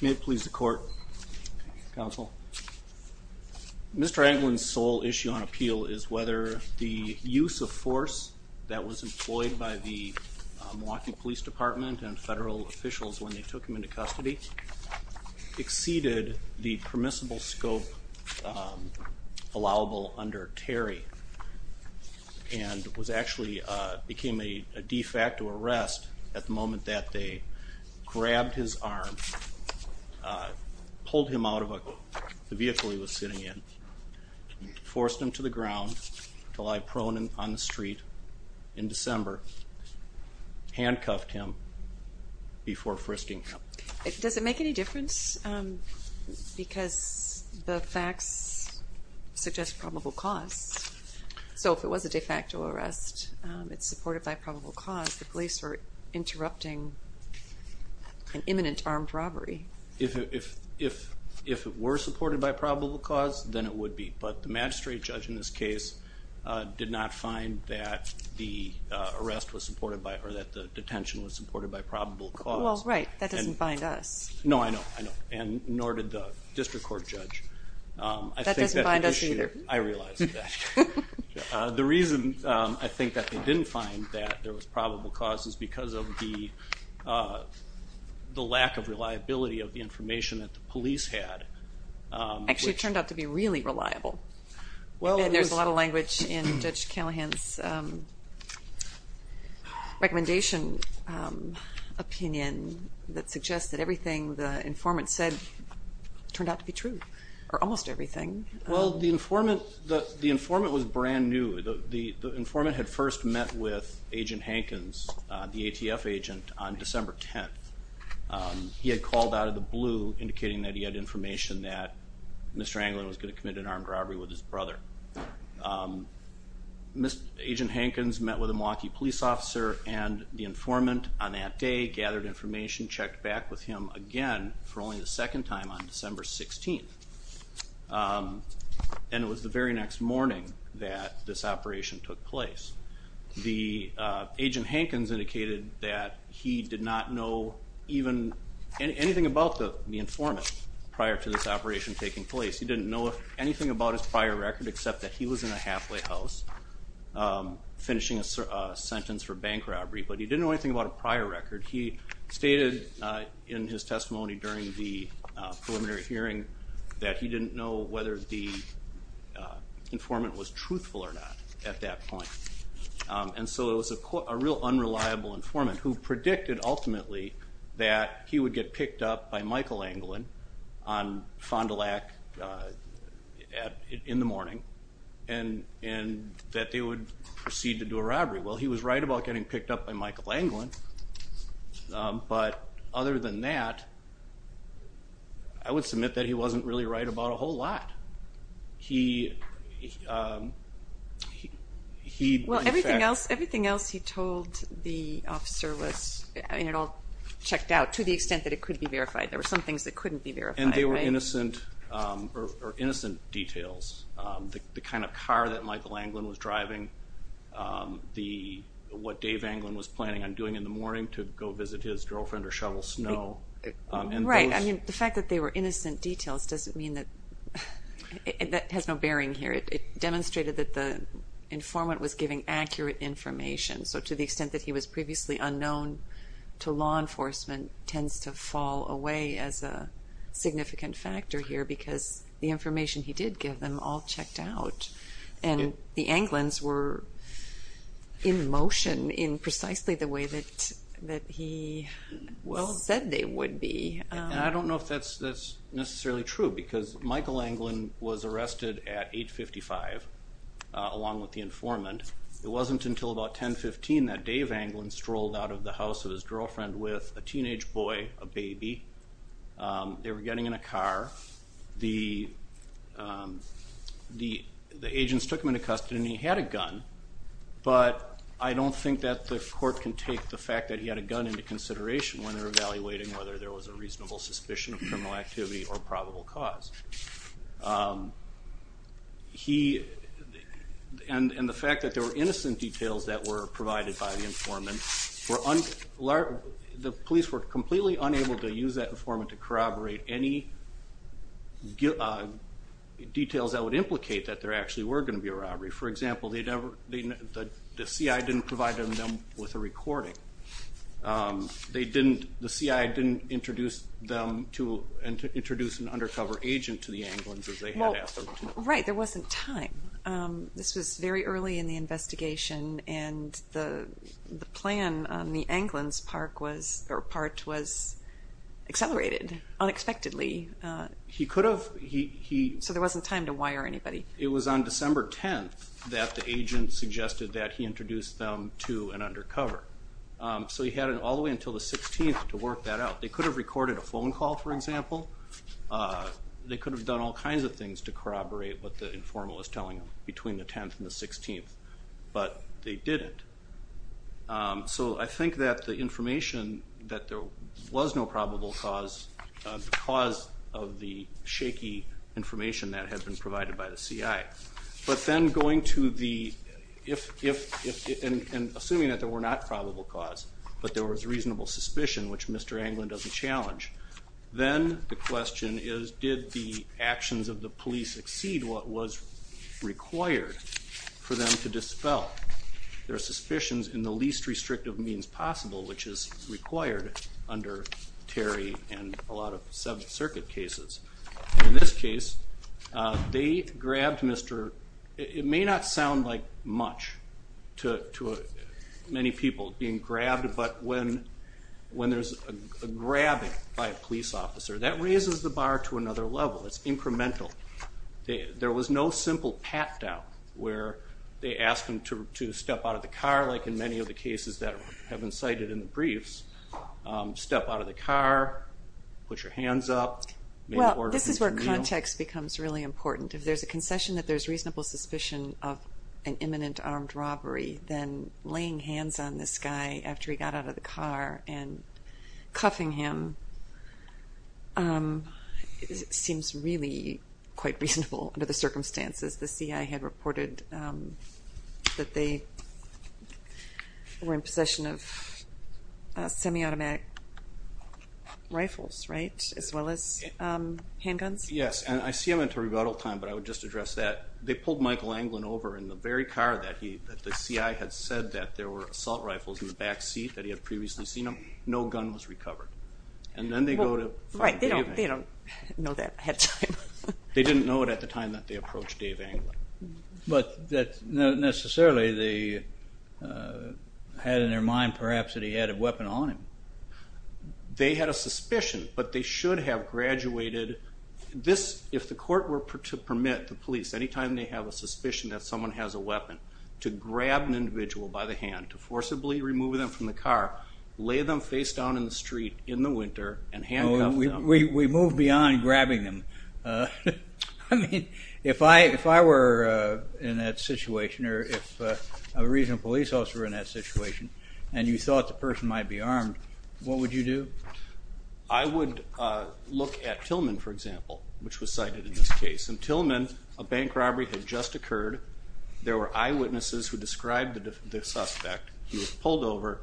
May it please the court, counsel. Mr. Anglin's sole issue on appeal is whether the use of force that was employed by the Milwaukee Police Department and federal officials when they took him into custody exceeded the permissible scope allowable under Terry and was actually became a de facto arrest at the moment that they grabbed his arm, pulled him out of the vehicle he was sitting in, forced him to the ground to lie prone on the street in December, handcuffed him before frisking him. Does it make any difference? Because the facts suggest probable cause. So if it was a de facto arrest, it's supported by probable cause, the police are interrupting an imminent armed robbery. If it were supported by probable cause, then it would be. But the magistrate judge in this case did not find that the arrest was supported by, or that the detention was supported by probable cause. Well, right, that doesn't bind us. No, I know, I know. And nor did the district court judge. That doesn't bind us either. I realize that. The reason I think that they didn't find that there was probable cause is because of the lack of reliability of the information that the police had. Actually, it turned out to be really reliable. And there's a lot of language in Judge Callahan's recommendation opinion that suggests that everything the informant said turned out to be true, or almost everything. Well, the informant was brand new. The informant had first met with Agent Hankins, the ATF agent, on December 10th. He had called out of the blue, indicating that he had information that Mr. Anglin was going to commit an armed robbery with his brother. Agent Hankins met with a Milwaukee police officer and the informant on that day gathered information, checked back with him again for only the second time on December 16th. And it was the very next morning that this operation took place. The agent Hankins indicated that he did not know even anything about the informant prior to this operation taking place. He didn't know anything about his prior record except that he was in a halfway house finishing a sentence for bank robbery. But he didn't know anything about a prior record. He stated in his testimony during the preliminary hearing that he didn't know whether the informant was truthful or not at that point. And so it was a real unreliable informant who predicted ultimately that he would get picked up by Michael Anglin on Fond du Lac in the morning and that they would proceed to do a robbery. Well, he was right about getting picked up by Michael Anglin, but other than that, I would submit that he wasn't really right about a whole lot. Well, everything else he told the officer was checked out to the extent that it could be verified. There were some things that couldn't be verified. And they were innocent details. The kind of car that Michael Anglin was driving, what Dave Anglin was planning on doing in the morning to go visit his girlfriend or shovel snow. Right. I mean, the fact that they were innocent details doesn't mean that it has no bearing here. It demonstrated that the informant was giving accurate information. So to the extent that he was previously unknown to law enforcement tends to fall away as a significant factor here because the information he did give them all checked out. And the Anglins were in motion in precisely the way that he said they would be. And I don't know if that's necessarily true because Michael Anglin was arrested at 8.55 along with the informant. It wasn't until about 10.15 that Dave Anglin strolled out of the house of his girlfriend with a teenage boy, a baby. They were getting in a car. The agents took him into custody and he had a gun. But I don't think that the court can take the fact that he had a gun into consideration when they're evaluating whether there was a reasonable suspicion of criminal activity or probable cause. And the fact that there were innocent details that were provided by the informant, the police were completely unable to use that informant to corroborate any details that would implicate that there actually were going to be a robbery. For example, the CI didn't provide them with a recording. The CI didn't introduce an undercover agent to the Anglins as they had asked them to. Right, there wasn't time. This was very early in the investigation and the plan on the Anglins part was accelerated unexpectedly. So there wasn't time to wire anybody. It was on December 10th that the agent suggested that he introduce them to an undercover. So he had it all the way until the 16th to work that out. They could have recorded a phone call, for example. They could have done all kinds of things to corroborate what the informant was telling them between the 10th and the 16th, but they didn't. So I think that the information that there was no probable cause, because of the shaky information that had been provided by the CI. But then going to the, and assuming that there were not probable cause, but there was reasonable suspicion, which Mr. Anglin doesn't challenge, then the question is, did the actions of the police exceed what was required for them to dispel? There are suspicions in the least restrictive means possible, which is required under Terry and a lot of sub-circuit cases. In this case, they grabbed Mr., it may not sound like much to many people being grabbed, but when there's a grabbing by a police officer, that raises the bar to another level. It's incremental. There was no simple pat-down where they asked him to step out of the car, like in many of the cases that have been cited in the briefs. Step out of the car, put your hands up. Well, this is where context becomes really important. If there's a concession that there's reasonable suspicion of an imminent armed robbery, then laying hands on this guy after he got out of the car and cuffing him seems really quite reasonable under the circumstances. The CI had reported that they were in possession of semi-automatic rifles, right, as well as handguns? Yes, and I see them until rebuttal time, but I would just address that. They pulled Michael Anglin over in the very car that the CI had said that there were assault rifles in the back seat that he had previously seen him. No gun was recovered, and then they go to find Dave Anglin. Right, they don't know that ahead of time. They didn't know it at the time that they approached Dave Anglin. But that necessarily they had in their mind perhaps that he had a weapon on him. They had a suspicion, but they should have graduated. If the court were to permit the police, any time they have a suspicion that someone has a weapon, to grab an individual by the hand, to forcibly remove them from the car, lay them face down in the street in the winter and handcuff them. We move beyond grabbing them. I mean, if I were in that situation or if a regional police officer were in that situation and you thought the person might be armed, what would you do? I would look at Tillman, for example, which was cited in this case. In Tillman, a bank robbery had just occurred. There were eyewitnesses who described the suspect. He was pulled over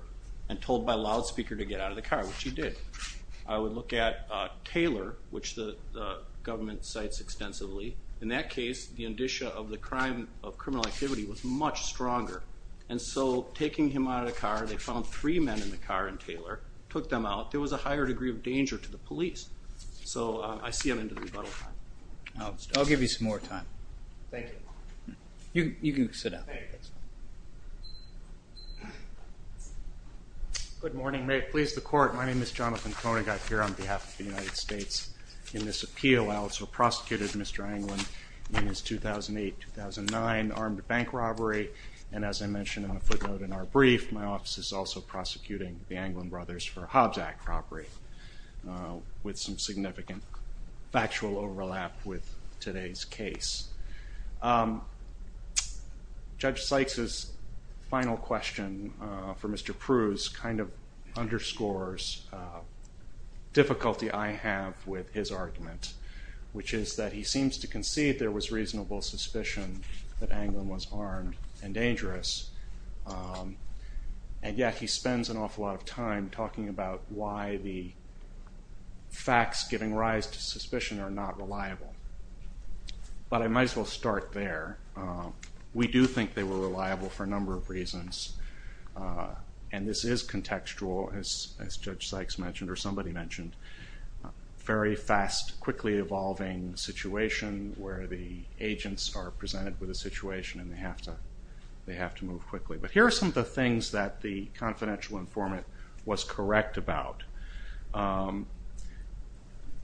and told by loudspeaker to get out of the car, which he did. I would look at Taylor, which the government cites extensively. In that case, the indicia of the crime of criminal activity was much stronger. And so taking him out of the car, they found three men in the car in Taylor, took them out. There was a higher degree of danger to the police. So I see I'm into the rebuttal time. I'll give you some more time. Thank you. You can sit down. Good morning. May it please the Court. My name is Jonathan Koenig. I'm here on behalf of the United States in this appeal. I also prosecuted Mr. Anglin in his 2008-2009 armed bank robbery. And as I mentioned in the footnote in our brief, my office is also prosecuting the Anglin brothers for Hobbs Act robbery, with some significant factual overlap with today's case. Judge Sykes' final question for Mr. Pruse kind of underscores difficulty I have with his argument, which is that he seems to concede there was reasonable suspicion that Anglin was armed and dangerous. And yet he spends an awful lot of time talking about why the facts giving rise to suspicion are not reliable. But I might as well start there. We do think they were reliable for a number of reasons. And this is contextual, as Judge Sykes mentioned or somebody mentioned. Very fast, quickly evolving situation where the agents are presented with a situation and they have to move quickly. But here are some of the things that the confidential informant was correct about.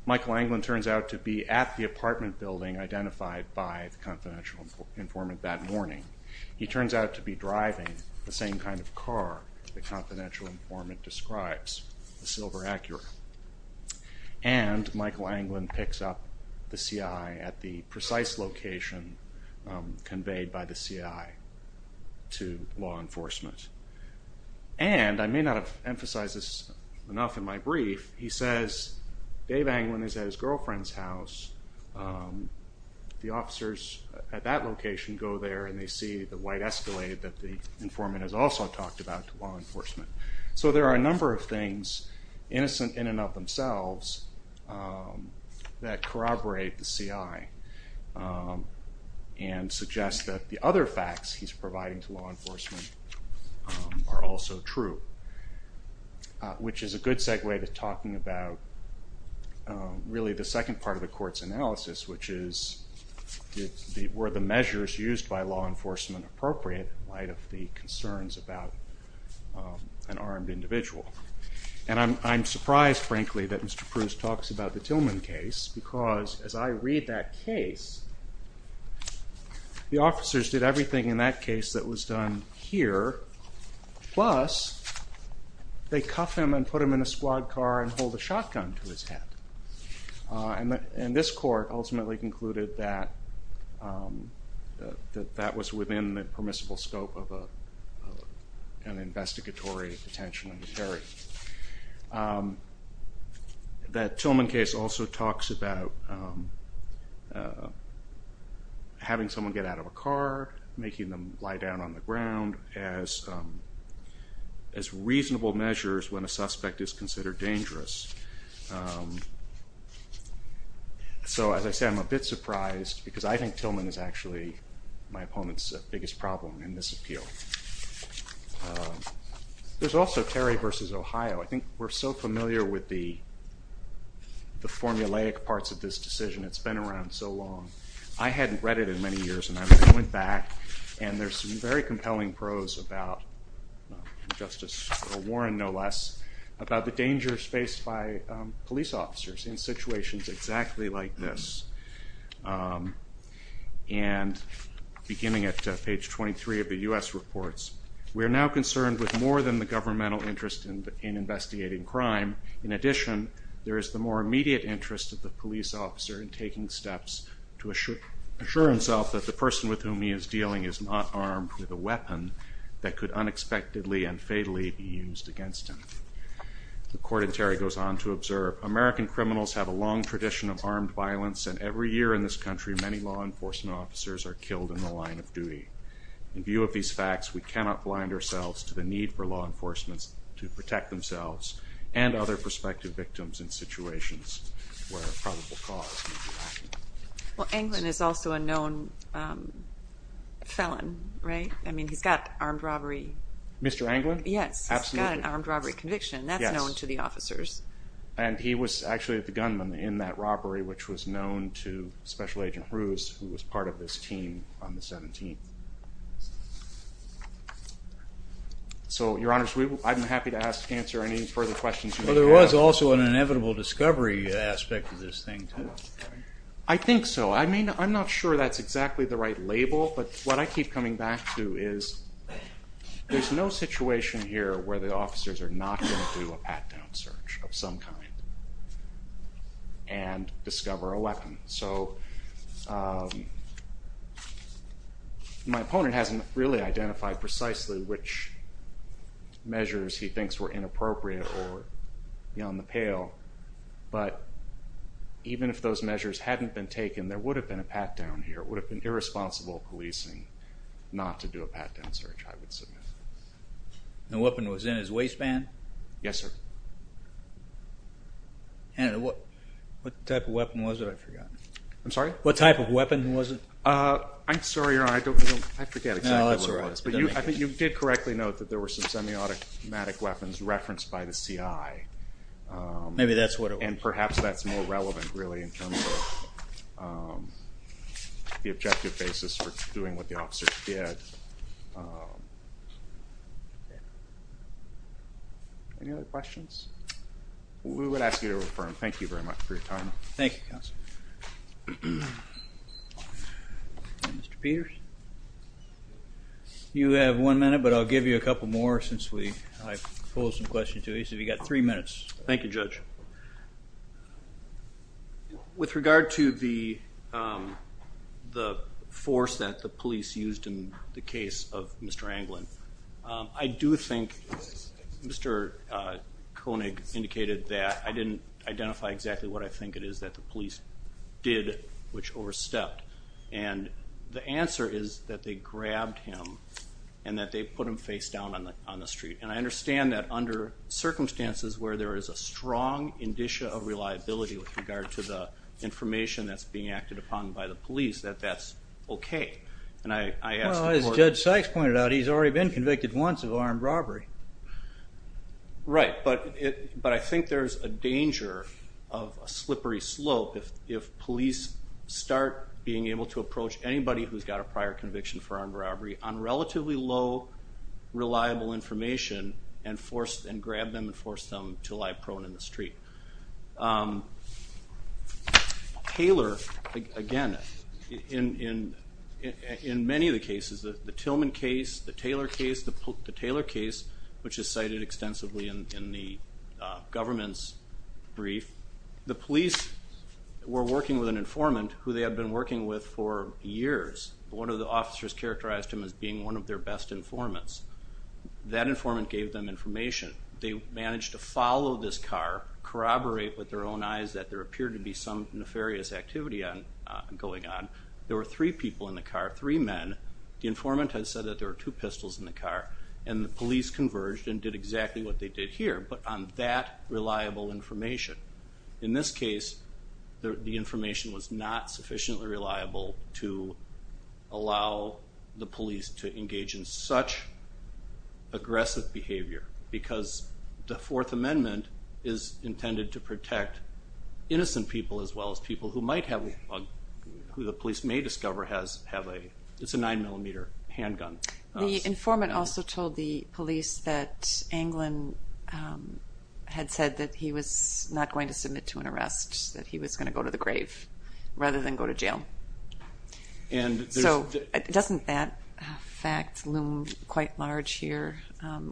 Michael Anglin turns out to be at the apartment building identified by the confidential informant that morning. He turns out to be driving the same kind of car the confidential informant describes, the silver Acura. And Michael Anglin picks up the CI at the precise location conveyed by the CI to law enforcement. And I may not have emphasized this enough in my brief, he says Dave Anglin is at his girlfriend's house. The officers at that location go there and they see the white escalate that the informant has also talked about to law enforcement. So there are a number of things, innocent in and of themselves, that corroborate the CI. And suggest that the other facts he's providing to law enforcement are also true. Which is a good segue to talking about really the second part of the court's analysis, which is were the measures used by law enforcement appropriate in light of the concerns about an armed individual. And I'm surprised frankly that Mr. Pruse talks about the Tillman case because as I read that case, the officers did everything in that case that was done here. Plus, they cuff him and put him in a squad car and hold a shotgun to his head. And this court ultimately concluded that that was within the permissible scope of an investigatory detention. That Tillman case also talks about having someone get out of a car, making them lie down on the ground as reasonable measures when a suspect is considered dangerous. So as I said, I'm a bit surprised because I think Tillman is actually my opponent's biggest problem in this appeal. There's also Terry v. Ohio. I think we're so familiar with the formulaic parts of this decision, it's been around so long. I hadn't read it in many years and I went back and there's some very compelling prose about Justice Warren, no less, about the dangers faced by police officers in situations exactly like this. And beginning at page 23 of the U.S. reports, we are now concerned with more than the governmental interest in investigating crime. In addition, there is the more immediate interest of the police officer in taking steps to assure himself that the person with whom he is dealing is not armed with a weapon that could unexpectedly and fatally be used against him. The court in Terry goes on to observe, American criminals have a long tradition of armed violence and every year in this country, many law enforcement officers are killed in the line of duty. In view of these facts, we cannot blind ourselves to the need for law enforcement to protect themselves and other prospective victims in situations where a probable cause may be lacking. Well, Anglin is also a known felon, right? I mean, he's got armed robbery. Mr. Anglin? Yes. Absolutely. He's got an armed robbery conviction. Yes. That's known to the officers. And he was actually the gunman in that robbery, which was known to Special Agent Bruce, who was part of this team on the 17th. So, Your Honors, I'm happy to answer any further questions you may have. Well, there was also an inevitable discovery aspect of this thing, too. I think so. I mean, I'm not sure that's exactly the right label, but what I keep coming back to is there's no situation here where the officers are not going to do a pat-down search of some kind and discover a weapon. So my opponent hasn't really identified precisely which measures he thinks were inappropriate or on the pale, but even if those measures hadn't been taken, there would have been a pat-down here. It would have been irresponsible policing not to do a pat-down search, I would submit. The weapon was in his waistband? Yes, sir. What type of weapon was it? I forgot. I'm sorry? What type of weapon was it? I'm sorry, Your Honor. I forget exactly what it was. No, that's all right. I think you did correctly note that there were some semi-automatic weapons referenced by the CI. Maybe that's what it was. And perhaps that's more relevant, really, in terms of the objective basis for doing what the officers did. Any other questions? We would ask you to refer him. Thank you very much for your time. Thank you, Counsel. Mr. Peters? You have one minute, but I'll give you a couple more since I posed some questions to you. So you've got three minutes. Thank you, Judge. With regard to the force that the police used in the case of Mr. Anglin, I do think Mr. Koenig indicated that I didn't identify exactly what I think it is that the police did, which overstepped. And the answer is that they grabbed him and that they put him face down on the street. And I understand that under circumstances where there is a strong indicia of reliability with regard to the information that's being acted upon by the police, that that's okay. As Judge Sykes pointed out, he's already been convicted once of armed robbery. Right. But I think there's a danger of a slippery slope if police start being able to approach anybody who's got a prior conviction for armed robbery on relatively low, reliable information and grab them and force them to lie prone in the street. Taylor, again, in many of the cases, the Tillman case, the Taylor case, the Taylor case, which is cited extensively in the government's brief, the police were working with an informant who they had been working with for years. One of the officers characterized him as being one of their best informants. That informant gave them information. They managed to follow this car, corroborate with their own eyes that there appeared to be some nefarious activity going on. There were three people in the car, three men. The informant had said that there were two pistols in the car, and the police converged and did exactly what they did here, but on that reliable information. In this case, the information was not sufficiently reliable to allow the police to engage in such aggressive behavior because the Fourth Amendment is intended to protect innocent people as well as people who might have, who the police may discover have a, it's a 9-millimeter handgun. The informant also told the police that Anglin had said that he was not going to submit to an arrest, that he was going to go to the grave rather than go to jail. So doesn't that fact loom quite large here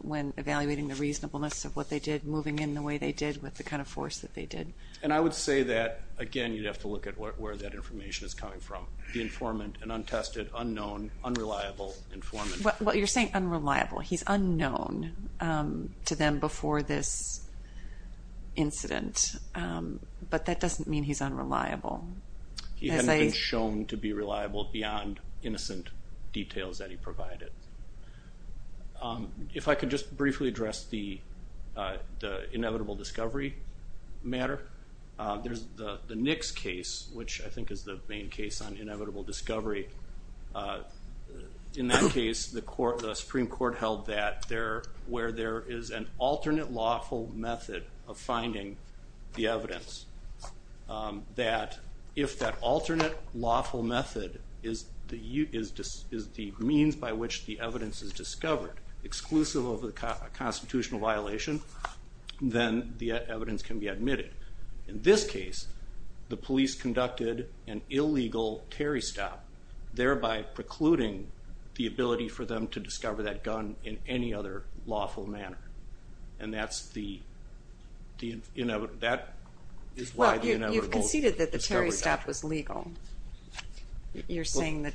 when evaluating the reasonableness of what they did, moving in the way they did with the kind of force that they did? And I would say that, again, you'd have to look at where that information is coming from. The informant, an untested, unknown, unreliable informant. Well, you're saying unreliable. He's unknown to them before this incident, but that doesn't mean he's unreliable. He hadn't been shown to be reliable beyond innocent details that he provided. If I could just briefly address the inevitable discovery matter, there's the Nix case, which I think is the main case on inevitable discovery. In that case, the Supreme Court held that where there is an alternate lawful method of finding the evidence, that if that alternate lawful method is the means by which the evidence is discovered, exclusive of a constitutional violation, then the evidence can be admitted. In this case, the police conducted an illegal Terry stop, thereby precluding the ability for them to discover that gun in any other lawful manner. And that is why the inevitable discovery happened. Well, you've conceded that the Terry stop was legal. You're saying that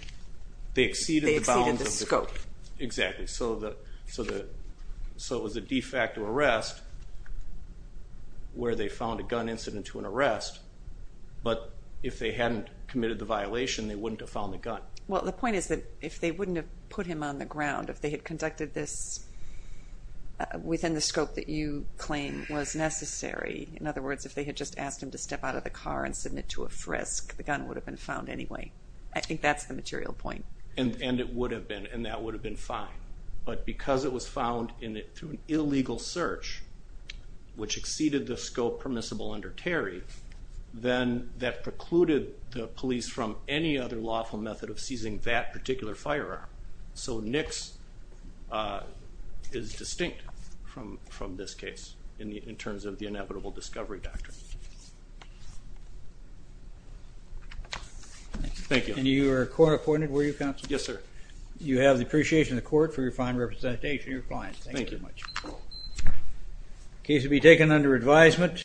they exceeded the scope. Exactly. So it was a de facto arrest where they found a gun incident to an arrest, but if they hadn't committed the violation, they wouldn't have found the gun. Well, the point is that if they wouldn't have put him on the ground, if they had conducted this within the scope that you claim was necessary, in other words, if they had just asked him to step out of the car and submit to a frisk, the gun would have been found anyway. I think that's the material point. And it would have been, and that would have been fine. But because it was found through an illegal search, which exceeded the scope permissible under Terry, then that precluded the police from any other lawful method of seizing that particular firearm. So Nix is distinct from this case in terms of the inevitable discovery doctrine. Thank you. And you were court appointed, were you, counsel? Yes, sir. You have the appreciation of the court for your fine representation. Thank you. Thank you very much. The case will be taken under advisement.